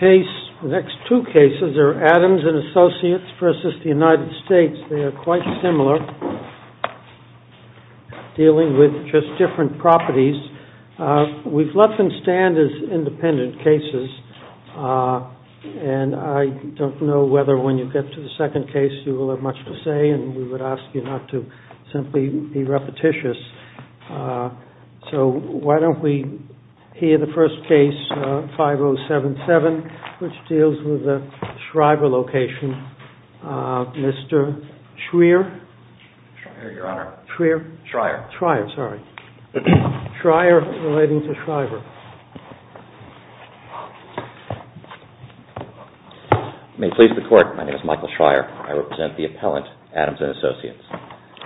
The next two cases are ADAMS AND ASSOCIATES versus the United States. They are quite similar, dealing with just different properties. We've let them stand as independent cases, and I don't know whether when you get to the second case you will have much to say, and we would ask you not to simply be repetitious. So why don't we hear the first case, 5077, which deals with the Schreiber location. Mr. Schreier? Schreier, Your Honor. Schreier? Schreier. Schreier, sorry. Schreier relating to Schreiber. May it please the Court, my name is Michael Schreier. I represent the appellant, Adams & Associates.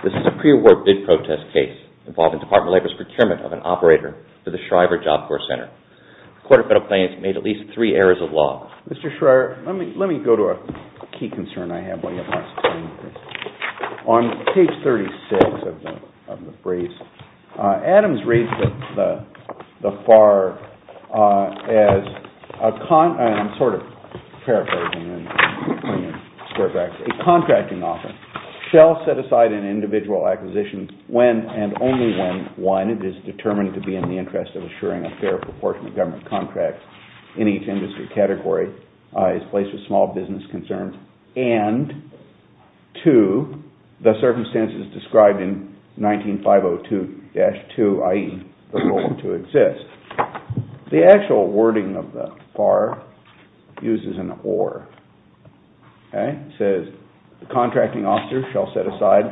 This is a pre-war bid protest case involving Department of Labor's procurement of an operator for the Schreiber Job Corps Center. The Court of Appellants made at least three errors of law. Mr. Schreier, let me go to a key concern I have while you're processing this. On page 36 of the brief, Adams raised the FAR as a, I'm sort of paraphrasing, a contracting offer. It shall set aside an individual acquisition when and only when, one, it is determined to be in the interest of assuring a fair proportion of government contracts in each industry category, is placed with small business concerns, and, two, the circumstances described in 19.502-2, i.e., the role to exist. The actual wording of the FAR uses an or. It says the contracting officer shall set aside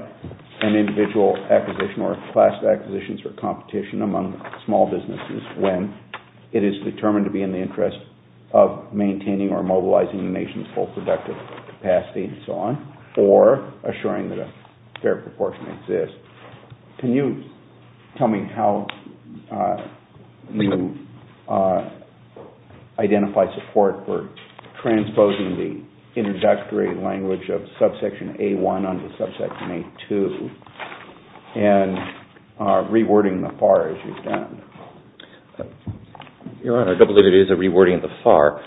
an individual acquisition or class of acquisitions for competition among small businesses when it is determined to be in the interest of maintaining or mobilizing the nation's full productive capacity, and so on, or assuring that a fair proportion exists. Can you tell me how you identify support for transposing the introductory language of subsection A-1 onto subsection A-2 and rewording the FAR as you've done? Your Honor, I don't believe it is a rewording of the FAR.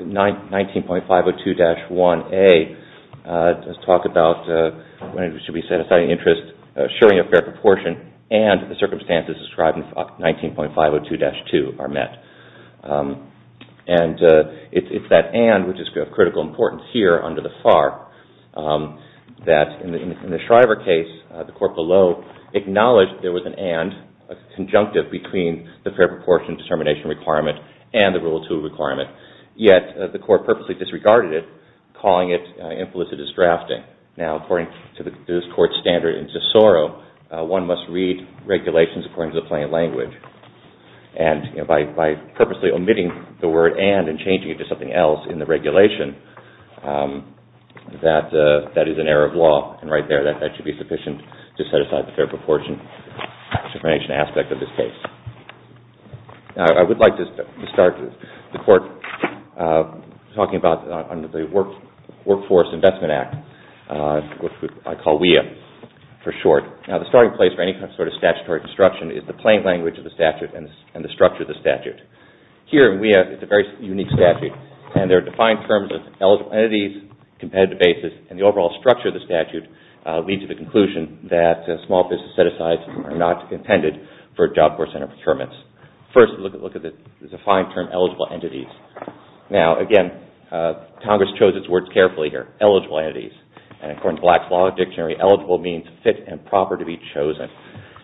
19.502-1A does talk about when it should be set aside an interest assuring a fair proportion and the circumstances described in 19.502-2 are met. And it's that and, which is of critical importance here under the FAR, that in the Shriver case, the court below acknowledged there was an and, a conjunctive between the fair proportion determination requirement and the Rule 2 requirement, yet the court purposely disregarded it, calling it implicit as drafting. Now, according to this Court's standard in Tesoro, one must read regulations according to the plain language. And by purposely omitting the word and and changing it to something else in the regulation, that is an error of law. And right there, that should be sufficient to set aside the fair proportion determination aspect of this case. Now, I would like to start the Court talking about the Workforce Investment Act, which I call WEA for short. Now, the starting place for any sort of statutory construction is the plain language of the statute and the structure of the statute. Here in WEA, it's a very unique statute, and there are defined terms of eligible entities, competitive basis, and the overall structure of the statute leads to the conclusion that small business set-asides are not intended for Job Corps Center procurements. First, look at the defined term eligible entities. Now, again, Congress chose its words carefully here, eligible entities. And according to Black's Law Dictionary, eligible means fit and proper to be chosen.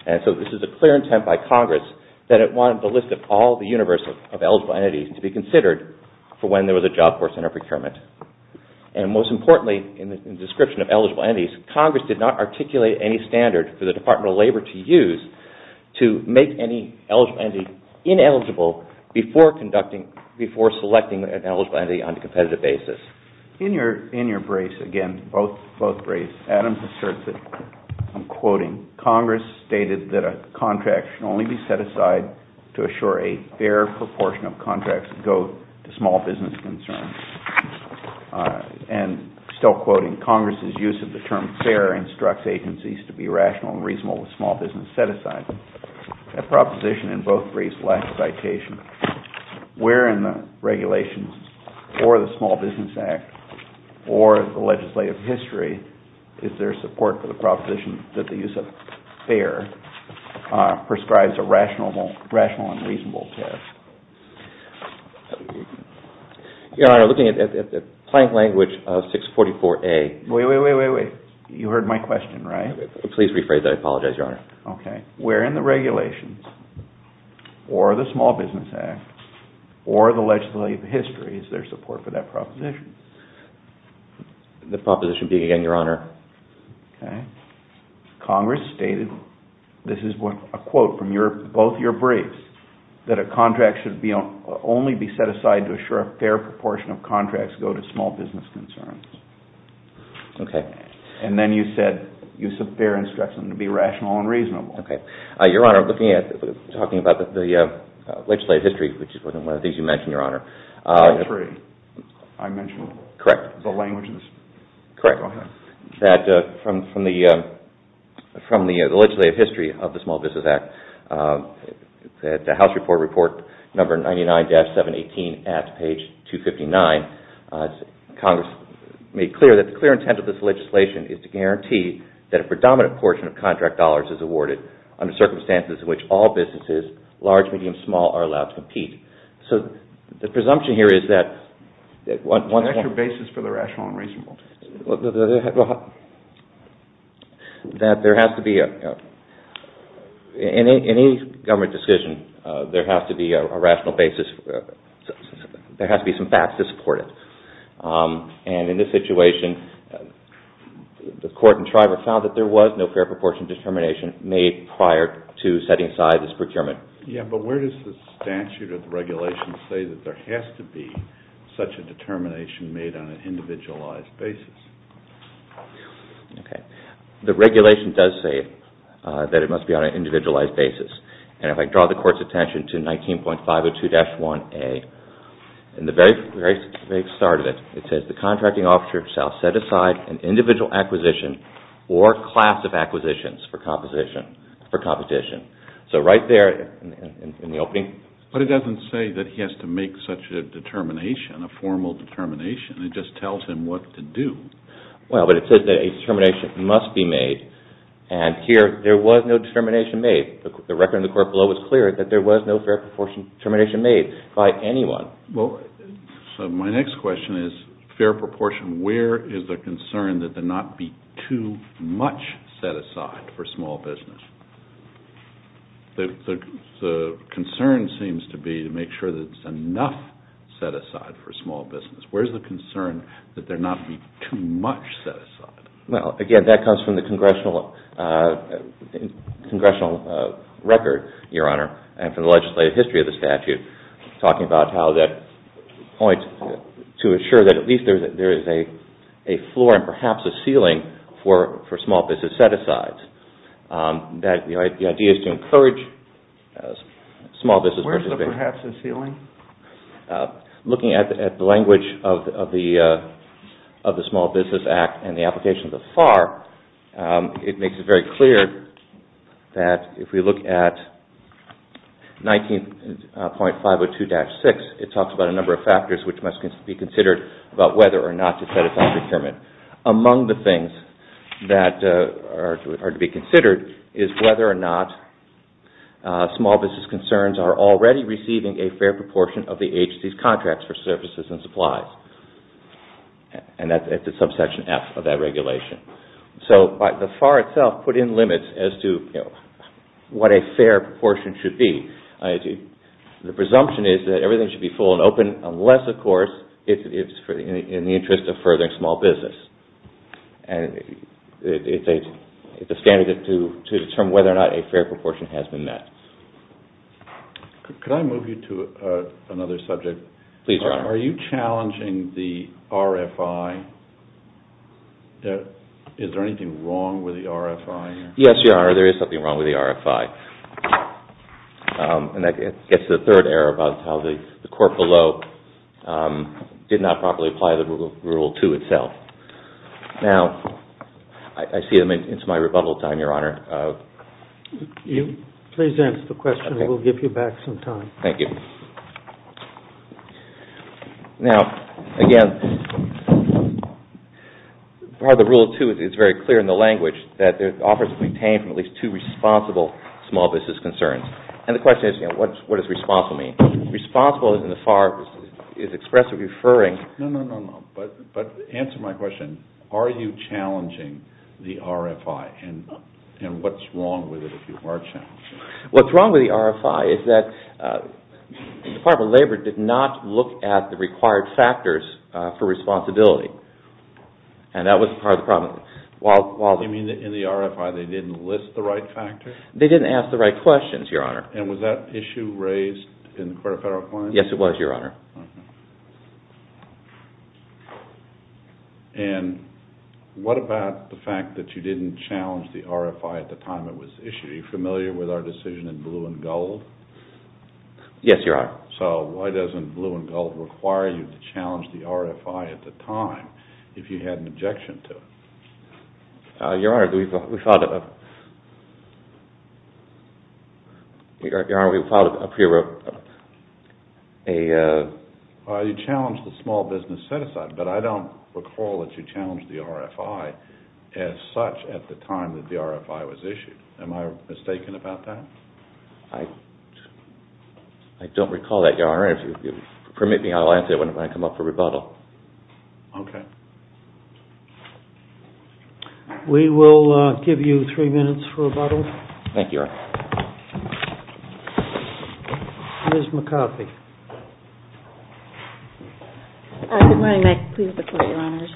And so this is a clear intent by Congress that it wanted the list of all the universe of eligible entities to be considered for when there was a Job Corps Center procurement. And most importantly, in the description of eligible entities, Congress did not articulate any standard for the Department of Labor to use to make any eligible entity ineligible before selecting an eligible entity on a competitive basis. In your briefs, again, both briefs, Adams asserts that, I'm quoting, Congress stated that a contract should only be set aside to assure a fair proportion of contracts that go to small business concerns. And still quoting, Congress's use of the term fair instructs agencies to be rational and reasonable with small business set-asides. That proposition in both briefs lacks citation. Where in the regulations or the Small Business Act or the legislative history is there support for the proposition that the use of fair prescribes a rational and reasonable test? Your Honor, looking at the plain language of 644A. Wait, wait, wait, wait, wait. You heard my question, right? Please rephrase that. I apologize, Your Honor. Where in the regulations or the Small Business Act or the legislative history is there support for that proposition? The proposition being, again, Your Honor. Congress stated, this is a quote from both your briefs, that a contract should only be set aside to assure a fair proportion of contracts go to small business concerns. Okay. And then you said, use of fair instructs them to be rational and reasonable. Okay. Your Honor, looking at, talking about the legislative history, which is one of the things you mentioned, Your Honor. I mentioned the languages. Correct. That from the legislative history of the Small Business Act, the House report, report number 99-718 at page 259, Congress made clear that the clear intent of this legislation is to guarantee that a predominant portion of contract dollars is awarded under circumstances in which all businesses, large, medium, small, are allowed to compete. So the presumption here is that once one... Is that your basis for the rational and reasonable test? That there has to be a, in any government decision, there has to be a rational basis. There has to be some facts to support it. And in this situation, the court in Shriver found that there was no fair proportion determination made prior to setting aside this procurement. Yeah, but where does the statute or the regulation say that there has to be such a determination made on an individualized basis? The regulation does say that it must be on an individualized basis. And if I draw the court's attention to 19.502-1A, in the very start of it, it says the contracting officer shall set aside an individual acquisition or class of acquisitions for competition. So right there in the opening... But it doesn't say that he has to make such a determination, a formal determination. It just tells him what to do. Well, but it says that a determination must be made. And here, there was no determination made. The record in the court below is clear that there was no fair proportion determination made by anyone. So my next question is, fair proportion, where is the concern that there not be too much set aside for small business? The concern seems to be to make sure that it's enough set aside for small business. Where's the concern that there not be too much set aside? Well, again, that comes from the congressional record, Your Honor, and from the legislative history of the statute, talking about how that points to ensure that at least there is a floor and perhaps a ceiling for small business set asides. The idea is to encourage small business... Where's the perhaps a ceiling? Looking at the language of the Small Business Act and the application thus far, it makes it very clear that if we look at 19.502-6, it talks about a number of factors which must be considered about whether or not to set aside procurement. Among the things that are to be considered is whether or not small business concerns are already receiving a fair proportion of the agency's contracts for services and supplies. And that's at the subsection F of that regulation. So the FAR itself put in limits as to what a fair proportion should be. The presumption is that everything should be full and open unless, of course, it's in the interest of furthering small business. It's a standard to determine whether or not a fair proportion has been met. Could I move you to another subject? Please, Your Honor. Are you challenging the RFI? Is there anything wrong with the RFI? Yes, Your Honor. There is something wrong with the RFI. And that gets to the third error about how the court below did not properly apply the Rule 2 itself. Now, I see it's my rebuttal time, Your Honor. Please answer the question. We'll give you back some time. Now, again, part of the Rule 2 is it's very clear in the language that offers are to be obtained from at least two responsible small business concerns. And the question is, what does responsible mean? Responsible in the FAR is expressive referring. No, no, no, no. But answer my question. Are you challenging the RFI? And what's wrong with it if you are challenging it? What's wrong with the RFI is that the Department of Labor did not look at the required factors for responsibility. And that was part of the problem. You mean in the RFI they didn't list the right factors? They didn't ask the right questions, Your Honor. And was that issue raised in the Court of Federal Claims? Yes, it was, Your Honor. And what about the fact that you didn't challenge the RFI at the time it was issued? Are you familiar with our decision in blue and gold? Yes, Your Honor. So why doesn't blue and gold require you to challenge the RFI at the time if you had an objection to it? Your Honor, we filed a... You challenged the small business set-aside. But I don't recall that you challenged the RFI as such at the time that the RFI was issued. Am I mistaken about that? I don't recall that, Your Honor. Permit me, I'll answer it when I come up for rebuttal. We will give you three minutes for rebuttal. Ms. McCarthy. Good morning, Mike. Please report, Your Honors.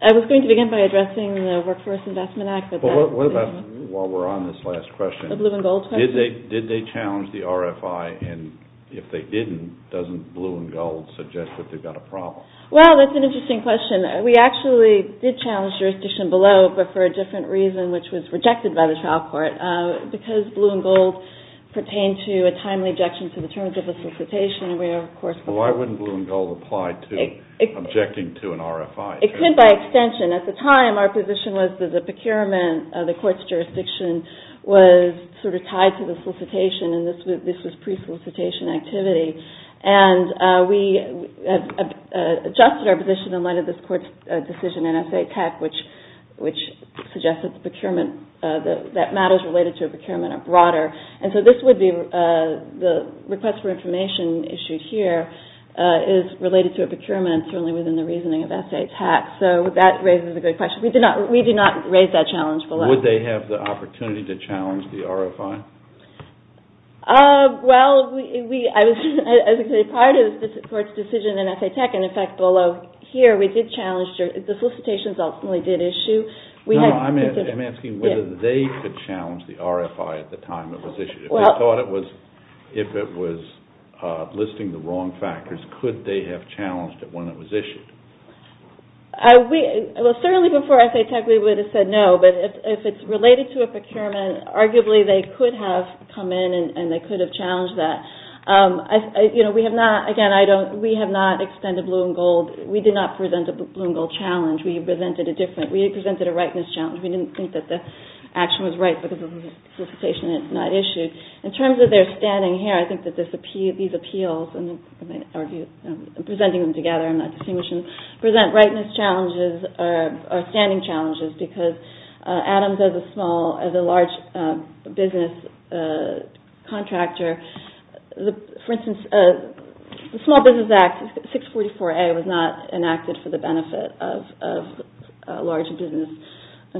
I was going to begin by addressing the Workforce Investment Act. While we're on this last question, did they challenge the RFI? And if they didn't, doesn't blue and gold suggest that they've got a problem? Well, that's an interesting question. We actually did challenge jurisdiction below, but for a different reason, which was rejected by the trial court. Because blue and gold pertain to a timely objection to the terms of the solicitation, we of course... Why wouldn't blue and gold apply to objecting to an RFI? It could by extension. At the time, our position was that the procurement of the court's jurisdiction was sort of tied to the solicitation, and this was pre-solicitation activity. And we adjusted our position in light of this court's decision in SATAC, which suggests that matters related to a procurement are broader. And so the request for information issued here is related to a procurement, certainly within the reasoning of SATAC, so that raises a good question. We did not raise that challenge below. Would they have the opportunity to challenge the RFI? Well, I was going to say, prior to this court's decision in SATAC, and in fact below here, the solicitations ultimately did issue... I'm asking whether they could challenge the RFI at the time it was issued. If it was listing the wrong factors, could they have challenged it when it was issued? Certainly before SATAC we would have said no, but if it's related to a procurement, arguably they could have come in and they could have challenged that. Again, we have not extended blue and gold. We did not present a blue and gold challenge. We presented a rightness challenge. We didn't think that the action was right for the solicitation that was not issued. In terms of their standing here, I think that these appeals, presenting them together, present rightness challenges or standing challenges, because Adams, as a large business contractor, for instance, the Small Business Act 644A was not enacted for the benefit of large business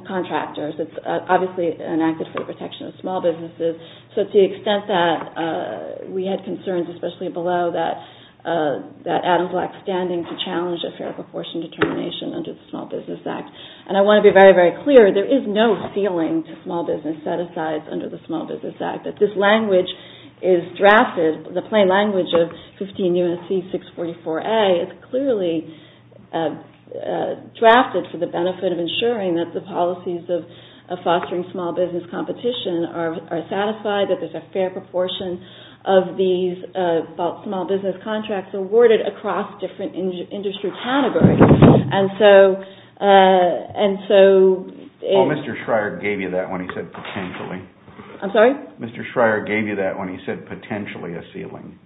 contractors. It's obviously enacted for the protection of small businesses, so to the extent that we had concerns, especially below that, Adams lacked standing to challenge a fair proportion determination under the Small Business Act. I want to be very, very clear, there is no ceiling to small business set-asides under the Small Business Act. This language is drafted, the plain language of 15 U.S.C. 644A is clearly drafted for the benefit of ensuring that the policies of fostering small business competition are satisfied, that there's a fair proportion of these small business contracts awarded across different industry categories. Well, Mr. Schreier gave you that when he said potentially. Mr. Schreier gave you that when he said potentially a ceiling.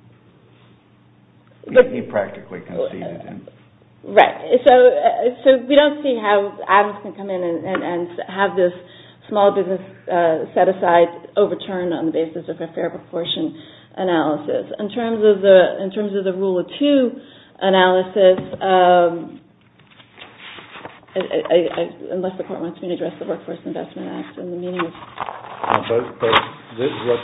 He practically conceded it. Right. So we don't see how Adams can come in and have this small business set-aside overturned on the basis of a fair proportion analysis. In terms of the Rule of Two analysis, unless the Court wants me to address the Workforce Investment Act. But what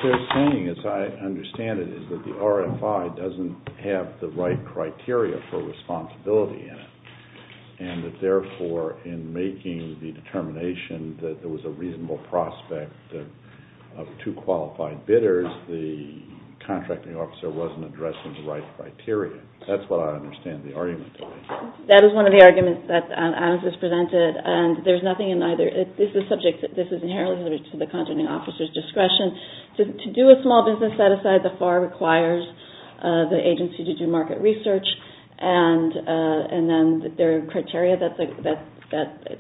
they're saying, as I understand it, is that the RFI doesn't have the right criteria for responsibility in it. And that therefore, in making the determination that there was a reasonable prospect of two qualified bidders, the contracting officer wasn't addressing the right criteria. That's what I understand the argument to be. That is one of the arguments that Adams has presented. To do a small business set-aside, the FAR requires the agency to do market research, and then there are criteria that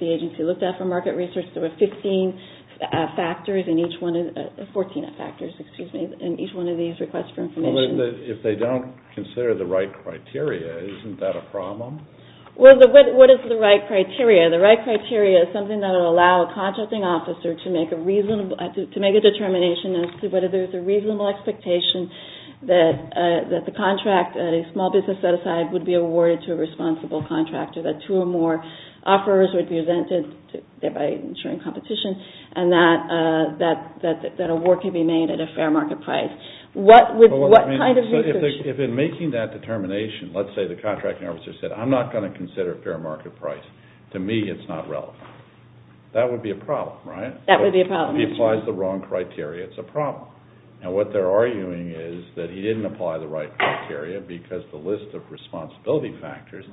the agency looked at for market research. There were 14 factors in each one of these requests for information. If they don't consider the right criteria, isn't that a problem? What is the right criteria? The right criteria is something that will allow a contracting officer to make a determination as to whether there's a reasonable expectation that the contract, a small business set-aside, would be awarded to a responsible contractor, that two or more offers would be presented, thereby ensuring competition, and that an award could be made at a fair market price. What kind of research... If in making that determination, let's say the contracting officer said, I'm not going to consider a fair market price. To me, it's not relevant. That would be a problem, right? That would be a problem. If he applies the wrong criteria, it's a problem. And what they're arguing is that he didn't apply the right criteria because the list of responsibility factors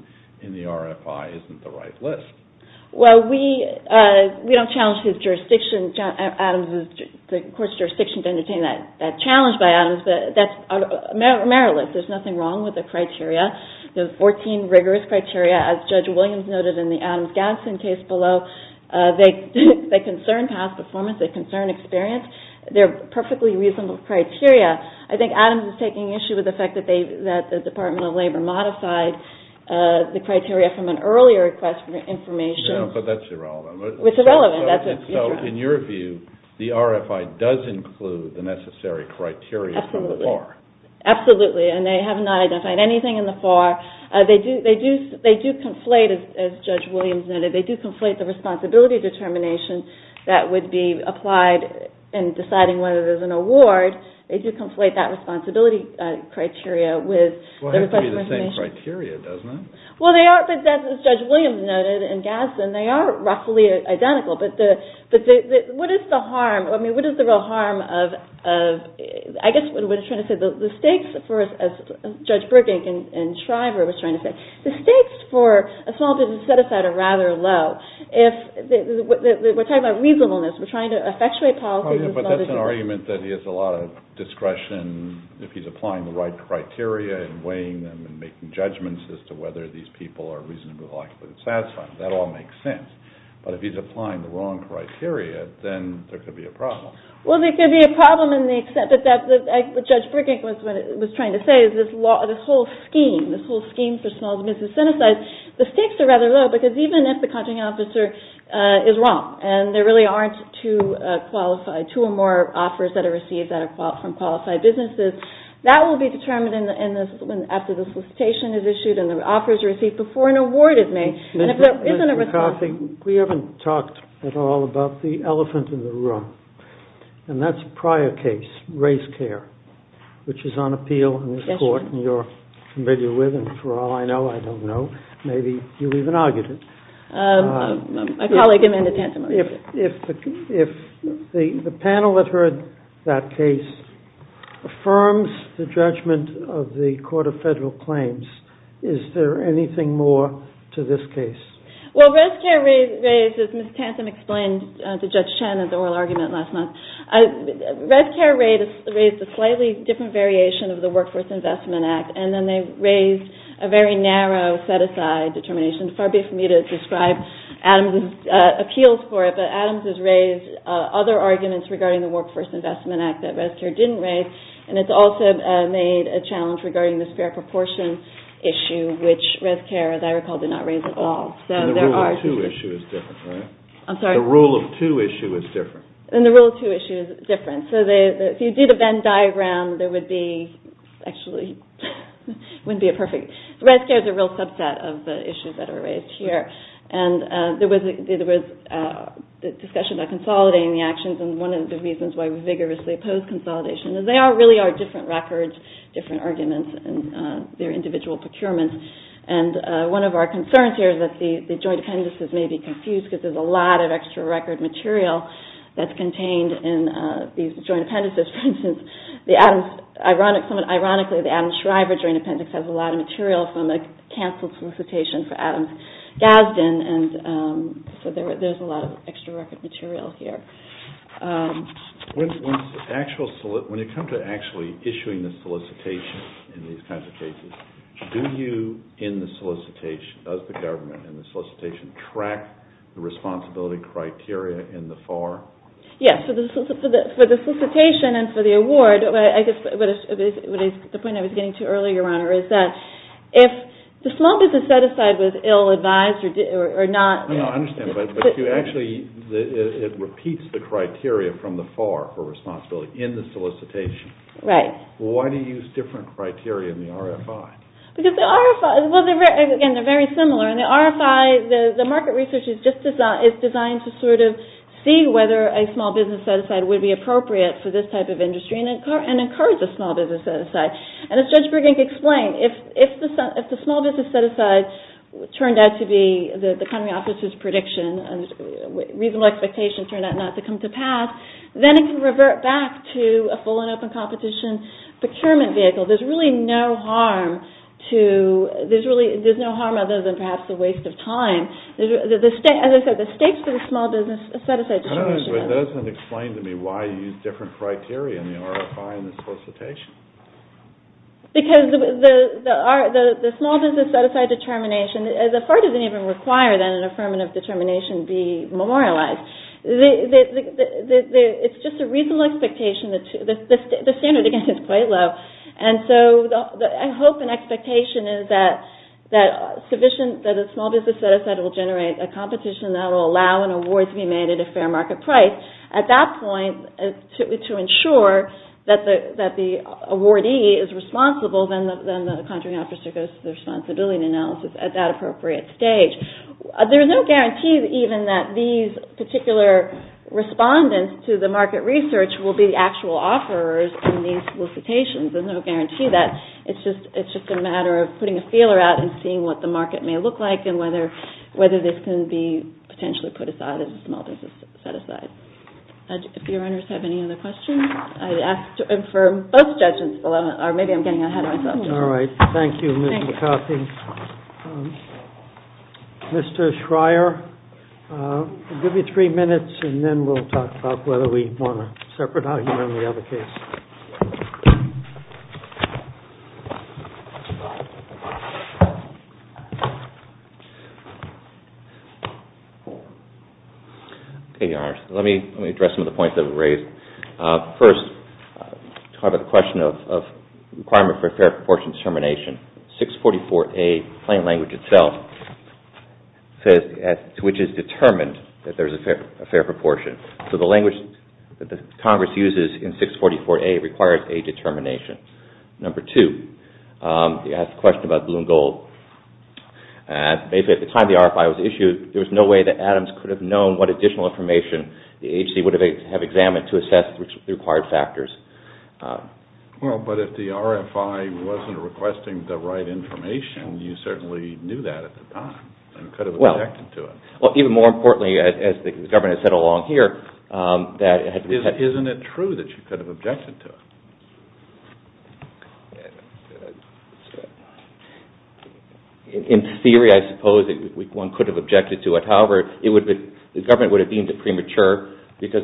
in the RFI isn't the right list. Well, we don't challenge his jurisdiction. Adams is the court's jurisdiction to entertain that challenge by Adams, but that's a merit list. There's nothing wrong with the criteria. There are 14 rigorous criteria, as Judge Williams noted in the Adams-Ganson case below. They concern past performance. They concern experience. They're perfectly reasonable criteria. I think Adams is taking issue with the fact that the Department of Labor modified the criteria from an earlier request for information. Yeah, but that's irrelevant. It's irrelevant. So in your view, the RFI does include the necessary criteria from the FAR? Absolutely. Absolutely, and they have not identified anything in the FAR. They do conflate, as Judge Williams noted, they do conflate the responsibility determination that would be applied in deciding whether there's an award. They do conflate that responsibility criteria with the request for information. Well, it has to be the same criteria, doesn't it? Well, they are, as Judge Williams noted in Ganson, they are roughly identical. But what is the harm, I mean, what is the real harm of, I guess what I'm trying to say, the stakes for, as Judge Burbank in Shriver was trying to say, the stakes for a small business set-aside are rather low. We're talking about reasonableness. We're trying to effectuate policy. But that's an argument that he has a lot of discretion if he's applying the right criteria and weighing them and making judgments as to whether these people are reasonably likely to be satisfied. That all makes sense. But if he's applying the wrong criteria, then there could be a problem. Well, there could be a problem in the extent that, as Judge Burbank was trying to say, this whole scheme, this whole scheme for small business set-asides, the stakes are rather low because even if the contracting officer is wrong and there really aren't two or more offers that are received from qualified businesses, that will be determined after the solicitation is issued and the offers are received before an award is made. And if there isn't a response... Mr. McCarthy, we haven't talked at all about the elephant in the room, and that's a prior case, race care, which is on appeal in this court and you're familiar with it. And for all I know, I don't know. Maybe you even argued it. My colleague Amanda Tantum argued it. If the panel that heard that case affirms the judgment of the Court of Federal Claims, is there anything more to this case? Well, race care raises, as Ms. Tantum explained to Judge Chen at the oral argument last month, race care raised a slightly different variation of the Workforce Investment Act and then they raised a very narrow set-aside determination. Far be it from me to describe Adams' appeals for it, but Adams has raised other arguments regarding the Workforce Investment Act that race care didn't raise and it's also made a challenge regarding the spare proportion issue, which race care, as I recall, did not raise at all. And the rule of two issue is different, right? I'm sorry? The rule of two issue is different. And the rule of two issue is different. So if you do the Venn diagram, there would be, actually, it wouldn't be perfect. Race care is a real subset of the issues that are raised here. And there was a discussion about consolidating the actions and one of the reasons why we vigorously oppose consolidation is they really are different records, different arguments, and they're individual procurements. And one of our concerns here is that the joint appendices may be confused because there's a lot of extra record material that's contained in these joint appendices. Ironically, the Adams-Schreiber Joint Appendix has a lot of material from the cancelled solicitation for Adams-Gasden, and so there's a lot of extra record material here. When it comes to actually issuing the solicitation in these kinds of cases, do you, in the solicitation, does the government in the solicitation, track the responsibility criteria in the FAR? Yes. For the solicitation and for the award, I guess the point I was getting to earlier, Your Honor, is that if the small business set-aside was ill-advised or not... No, no, I understand. But you actually, it repeats the criteria from the FAR for responsibility in the solicitation. Right. Why do you use different criteria in the RFI? Because the RFI, well, again, they're very similar. In the RFI, the market research is designed to sort of see whether a small business set-aside would be appropriate for this type of industry and encourage a small business set-aside. And as Judge Burgink explained, if the small business set-aside turned out to be the county officer's prediction, reasonable expectation turned out not to come to pass, then it can revert back to a full and open competition procurement vehicle. There's really no harm to, there's no harm other than perhaps the waste of time. As I said, the stakes of the small business set-aside determination... It doesn't explain to me why you use different criteria in the RFI and the solicitation. Because the small business set-aside determination, the FAR doesn't even require that an affirmative determination be memorialized. It's just a reasonable expectation. The standard, again, is quite low. And so I hope an expectation is that a small business set-aside will generate a competition that will allow an award to be made at a fair market price. At that point, to ensure that the awardee is responsible, then the county officer goes to the responsibility analysis at that appropriate stage. There's no guarantee even that these particular respondents to the market research will be the actual offerers in these solicitations. There's no guarantee that. It's just a matter of putting a feeler out and seeing what the market may look like and whether this can be potentially put aside as a small business set-aside. If your honors have any other questions, I'd ask to inform both judges, or maybe I'm getting ahead of myself. All right. Thank you, Ms. McCarthy. Mr. Schreier, I'll give you three minutes, and then we'll talk about whether we want a separate argument on the other case. Okay, your honors. Let me address some of the points that were raised. First, to talk about the question of requirement for a fair proportion determination, 644A, plain language itself, which is determined that there's a fair proportion. So the language that Congress uses in 644A requires a determination. Basically, at the time the RFI was issued, there was no way that Adams could have known what additional information the AHC would have examined to assess the required factors. Well, but if the RFI wasn't requesting the right information, you certainly knew that at the time and could have objected to it. Well, even more importantly, as the government has said along here, that it had to be... Isn't it true that you could have objected to it? In theory, I suppose that one could have objected to it. However, the government would have deemed it premature because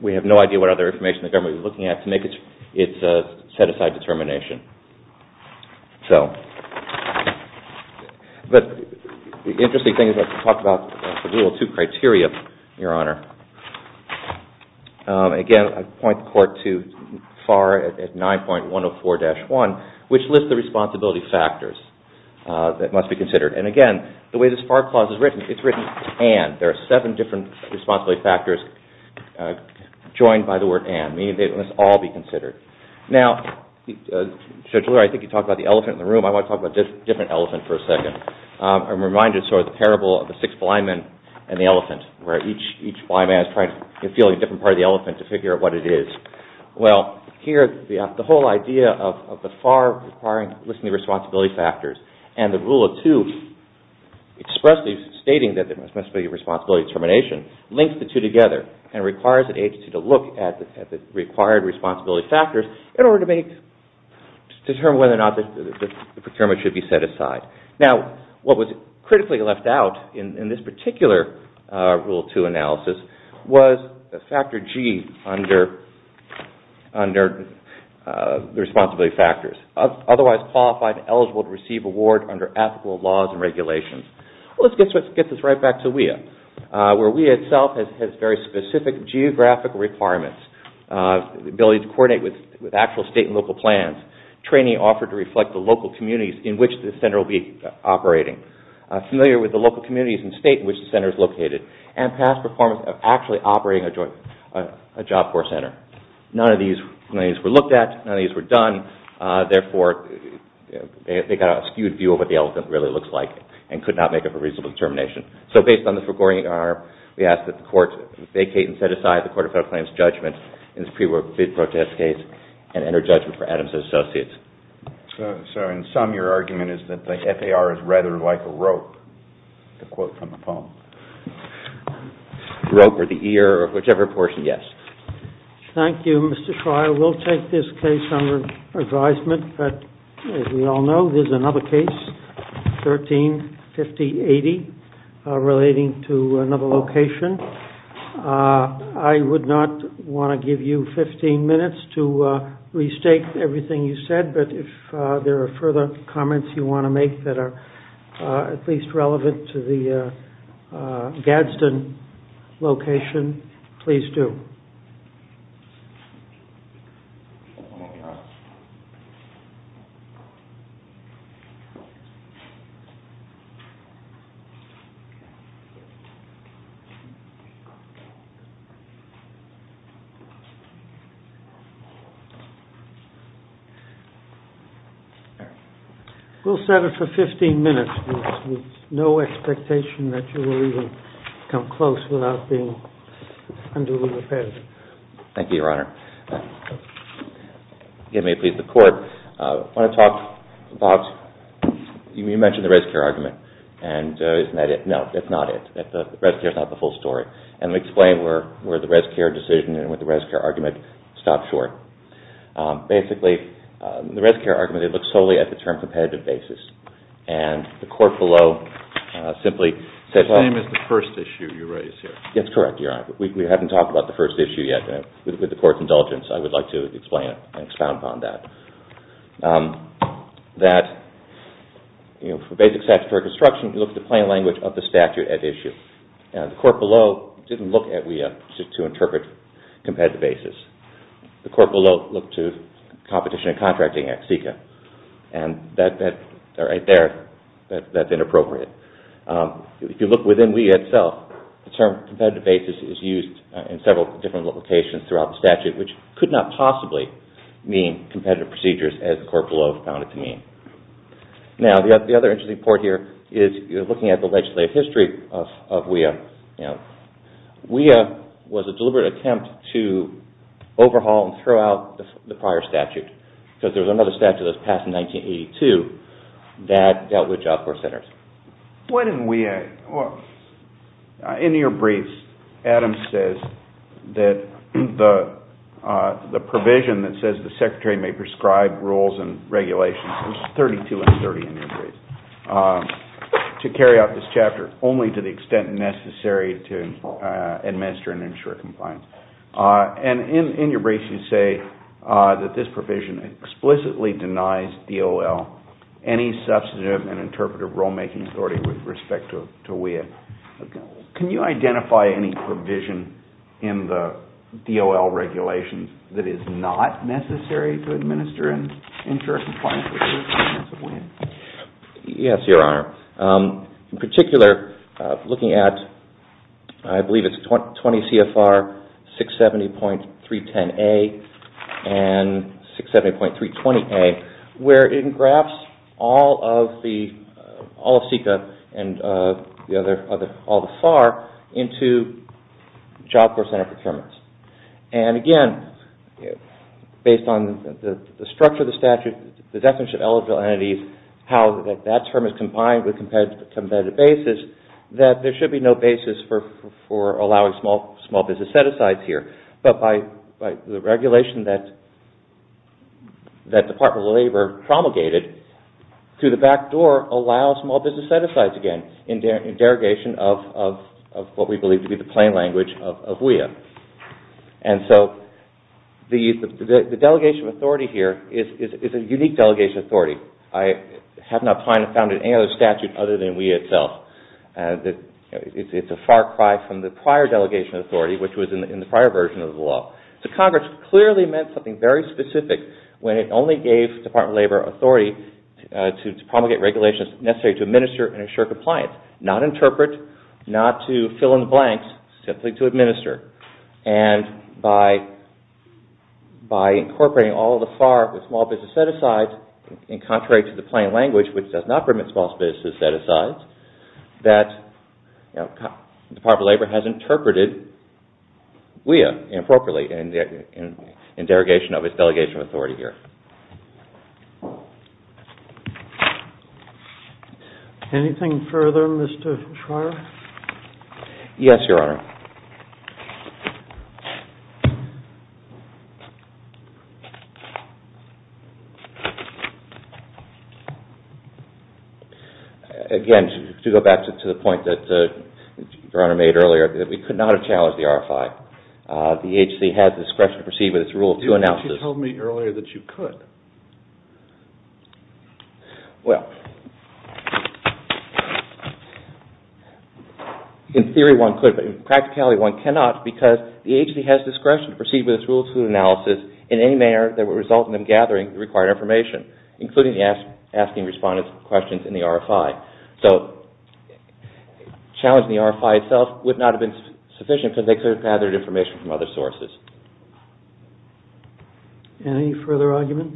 we have no idea what other information the government was looking at to make its set-aside determination. But the interesting thing is that we talked about the little two criteria, your honor. Again, I point the court too far at 9.104-1, which lists the responsibility factors that must be considered. And again, the way this FAR clause is written, it's written and. There are seven different responsibility factors joined by the word and, meaning they must all be considered. Now, Judge Lurie, I think you talked about the elephant in the room. I want to talk about this different elephant for a second. I'm reminded sort of the parable of the six blind men and the elephant, where each blind man is trying to feel a different part of the elephant to figure out what it is. Well, here, the whole idea of the FAR listing the responsibility factors and the Rule of Two expressly stating that there must be a responsibility determination links the two together and requires the agency to look at the required responsibility factors in order to determine whether or not the procurement should be set aside. Now, what was critically left out in this particular Rule of Two analysis was the factor G under the responsibility factors, otherwise qualified and eligible to receive award under ethical laws and regulations. Let's get this right back to WEA, where WEA itself has very specific geographic requirements, ability to coordinate with actual state and local plans, training offered to reflect the local communities in which the center will be operating, familiar with the local communities and state in which the center is located, and past performance of actually operating a job for a center. None of these claims were looked at. None of these were done. Therefore, they got a skewed view of what the elephant really looks like and could not make up a reasonable determination. So based on this recording, Your Honor, we ask that the Court vacate and set aside the Court of Federal Claims judgment in this pre-protest case and enter judgment for Adams and Associates. So in sum, your argument is that the FAR is rather like a rope, the quote from the poem. Rope or the ear or whichever portion, yes. Thank you, Mr. Schreier. We'll take this case under advisement, but as we all know, there's another case, 13-50-80, relating to another location. I would not want to give you 15 minutes to restate everything you said, but if there are further comments you want to make that are at least relevant to the Gadsden location, please do. We'll set it for 15 minutes. There's no expectation that you will even come close without being unduly repetitive. Thank you, Your Honor. Again, may it please the Court, I want to talk about, you mentioned the res care argument, and isn't that it? No, that's not it. Res care is not the full story. Let me explain where the res care decision and the res care argument stop short. Basically, the res care argument, it looks solely at the term competitive basis. The Court below simply says... The same as the first issue you raised here. That's correct, Your Honor. We haven't talked about the first issue yet. With the Court's indulgence, I would like to explain and expound upon that. That for basic statutory construction, you look at the plain language of the statute at issue. The Court below didn't look at WEA to interpret competitive basis. The Court below looked to competition and contracting at SECA. Right there, that's inappropriate. If you look within WEA itself, the term competitive basis is used in several different locations throughout the statute, which could not possibly mean competitive procedures as the Court below found it to mean. Now, the other interesting part here is looking at the legislative history of WEA. WEA was a deliberate attempt to overhaul and throw out the prior statute. There was another statute that was passed in 1982 that dealt with Job Corps Centers. In your briefs, Adam says that the provision that says the Secretary may prescribe rules and regulations, there's 32 and 30 in your briefs, to carry out this chapter, only to the extent necessary to administer and ensure compliance. In your briefs, you say that this provision explicitly denies DOL any substantive and interpretive rule-making authority with respect to WEA. Can you identify any provision in the DOL regulations that is not necessary to administer and ensure compliance with WEA? Yes, Your Honor. In particular, looking at, I believe it's 20 CFR 670.310A and 670.320A, where it engrafts all of CICA and all the FAR into Job Corps Center procurements. Again, based on the structure of the statute, the definition of eligible entities, how that term is combined with competitive basis, that there should be no basis for allowing small business set-asides here. But by the regulation that Department of Labor promulgated, through the back door allows small business set-asides again, in derogation of what we believe to be the plain language of WEA. And so the delegation of authority here is a unique delegation of authority. I have not found it in any other statute other than WEA itself. It's a far cry from the prior delegation of authority, which was in the prior version of the law. So Congress clearly meant something very specific when it only gave Department of Labor authority to promulgate regulations necessary to administer and ensure compliance. Not interpret, not to fill in the blanks, simply to administer. And by incorporating all of the FAR with small business set-asides, in contrary to the plain language, which does not permit small business set-asides, that Department of Labor has interpreted WEA improperly in derogation of its delegation of authority here. Anything further, Mr. Schreier? Yes, Your Honor. Again, to go back to the point that Your Honor made earlier, that we could not have challenged the RFI. The agency has discretion to proceed with its rule of two analysis. You told me earlier that you could. Well, in theory one could, but in practicality one cannot, because the agency has discretion to proceed with its rule of two analysis in any manner that would result in them gathering the required information. Including asking respondents questions in the RFI. So, challenging the RFI itself would not have been sufficient because they could have gathered information from other sources. Any further argument?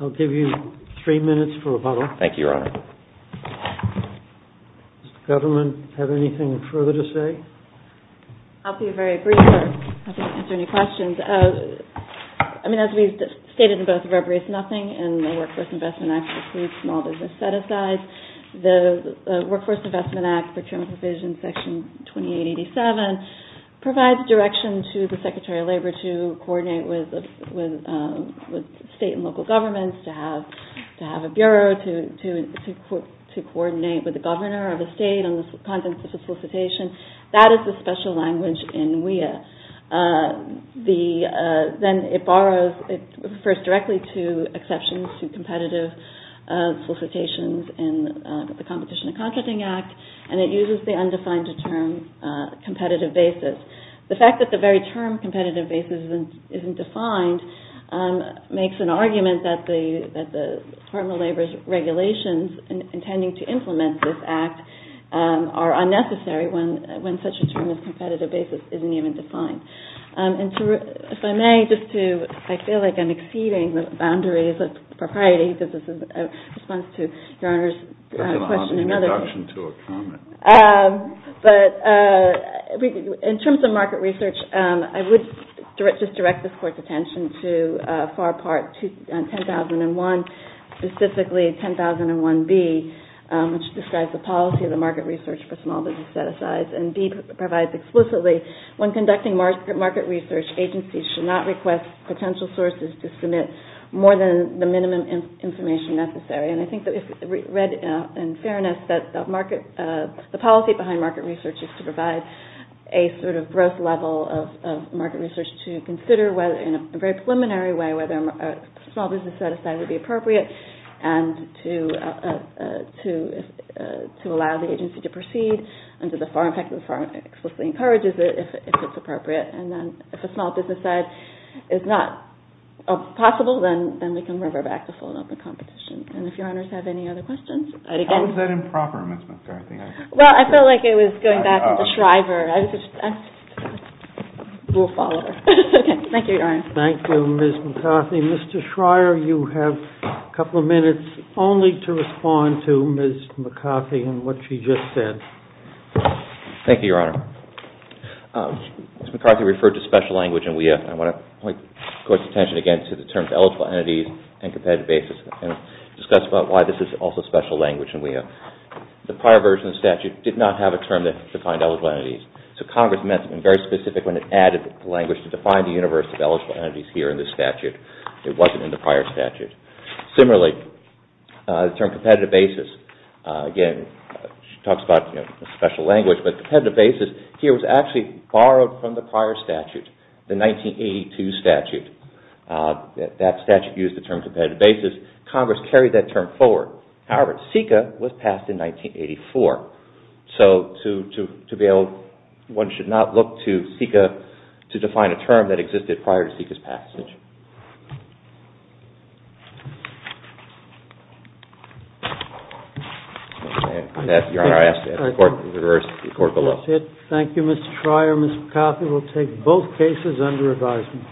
I'll give you three minutes for rebuttal. Thank you, Your Honor. Does the government have anything further to say? I'll be very brief. I don't have to answer any questions. I mean, as we've stated in both of our briefs, nothing in the Workforce Investment Act includes small business set-asides. The Workforce Investment Act Procurement Provision Section 2887 provides direction to the Secretary of Labor to coordinate with state and local governments, to have a bureau to coordinate with the governor of the state on the contents of the solicitation. That is the special language in WEA. Then it borrows, it refers directly to exceptions to competitive solicitations in the Competition and Contracting Act, and it uses the undefined term competitive basis. The fact that the very term competitive basis isn't defined makes an argument that the Department of Labor's regulations intending to implement this act are unnecessary when such a term as competitive basis isn't even defined. If I may, just to, I feel like I'm exceeding the boundaries of propriety. This is in response to Your Honor's question. That's an odd introduction to a comment. But in terms of market research, I would just direct this Court's attention to FAR Part 10001, specifically 10001B, which describes the policy of the market research for small business set-asides. And B provides explicitly, when conducting market research, agencies should not request potential sources to submit more than the minimum information necessary. And I think that if read in fairness, that the policy behind market research is to provide a sort of gross level of market research to consider in a very preliminary way whether a small business set-aside would be appropriate and to allow the agency to proceed under the FAR impact that FAR explicitly encourages it if it's appropriate. And then if a small business set-aside is not possible, then we can revert back to full and open competition. And if Your Honors have any other questions? How was that improper, Ms. McCarthy? Well, I felt like it was going back to the Shriver. We'll follow her. Okay. Thank you, Your Honor. Thank you, Ms. McCarthy. Mr. Shriver, you have a couple of minutes only to respond to Ms. McCarthy and what she just said. Thank you, Your Honor. Ms. McCarthy referred to special language in WEA. I want to point the Court's attention again to the terms eligible entities and competitive basis and discuss about why this is also special language in WEA. The prior version of the statute did not have a term that defined eligible entities. So Congress meant to be very specific when it added the language to define the universe of eligible entities here in this statute. It wasn't in the prior statute. Similarly, the term competitive basis, again, she talks about special language, but competitive basis here was actually borrowed from the prior statute, the 1982 statute. That statute used the term competitive basis. Congress carried that term forward. However, SECA was passed in 1984. So to be able – one should not look to SECA to define a term that existed prior to SECA's passage. Your Honor, I ask the Court to reverse the report below. Thank you, Mr. Shriver. Ms. McCarthy will take both cases under advisement.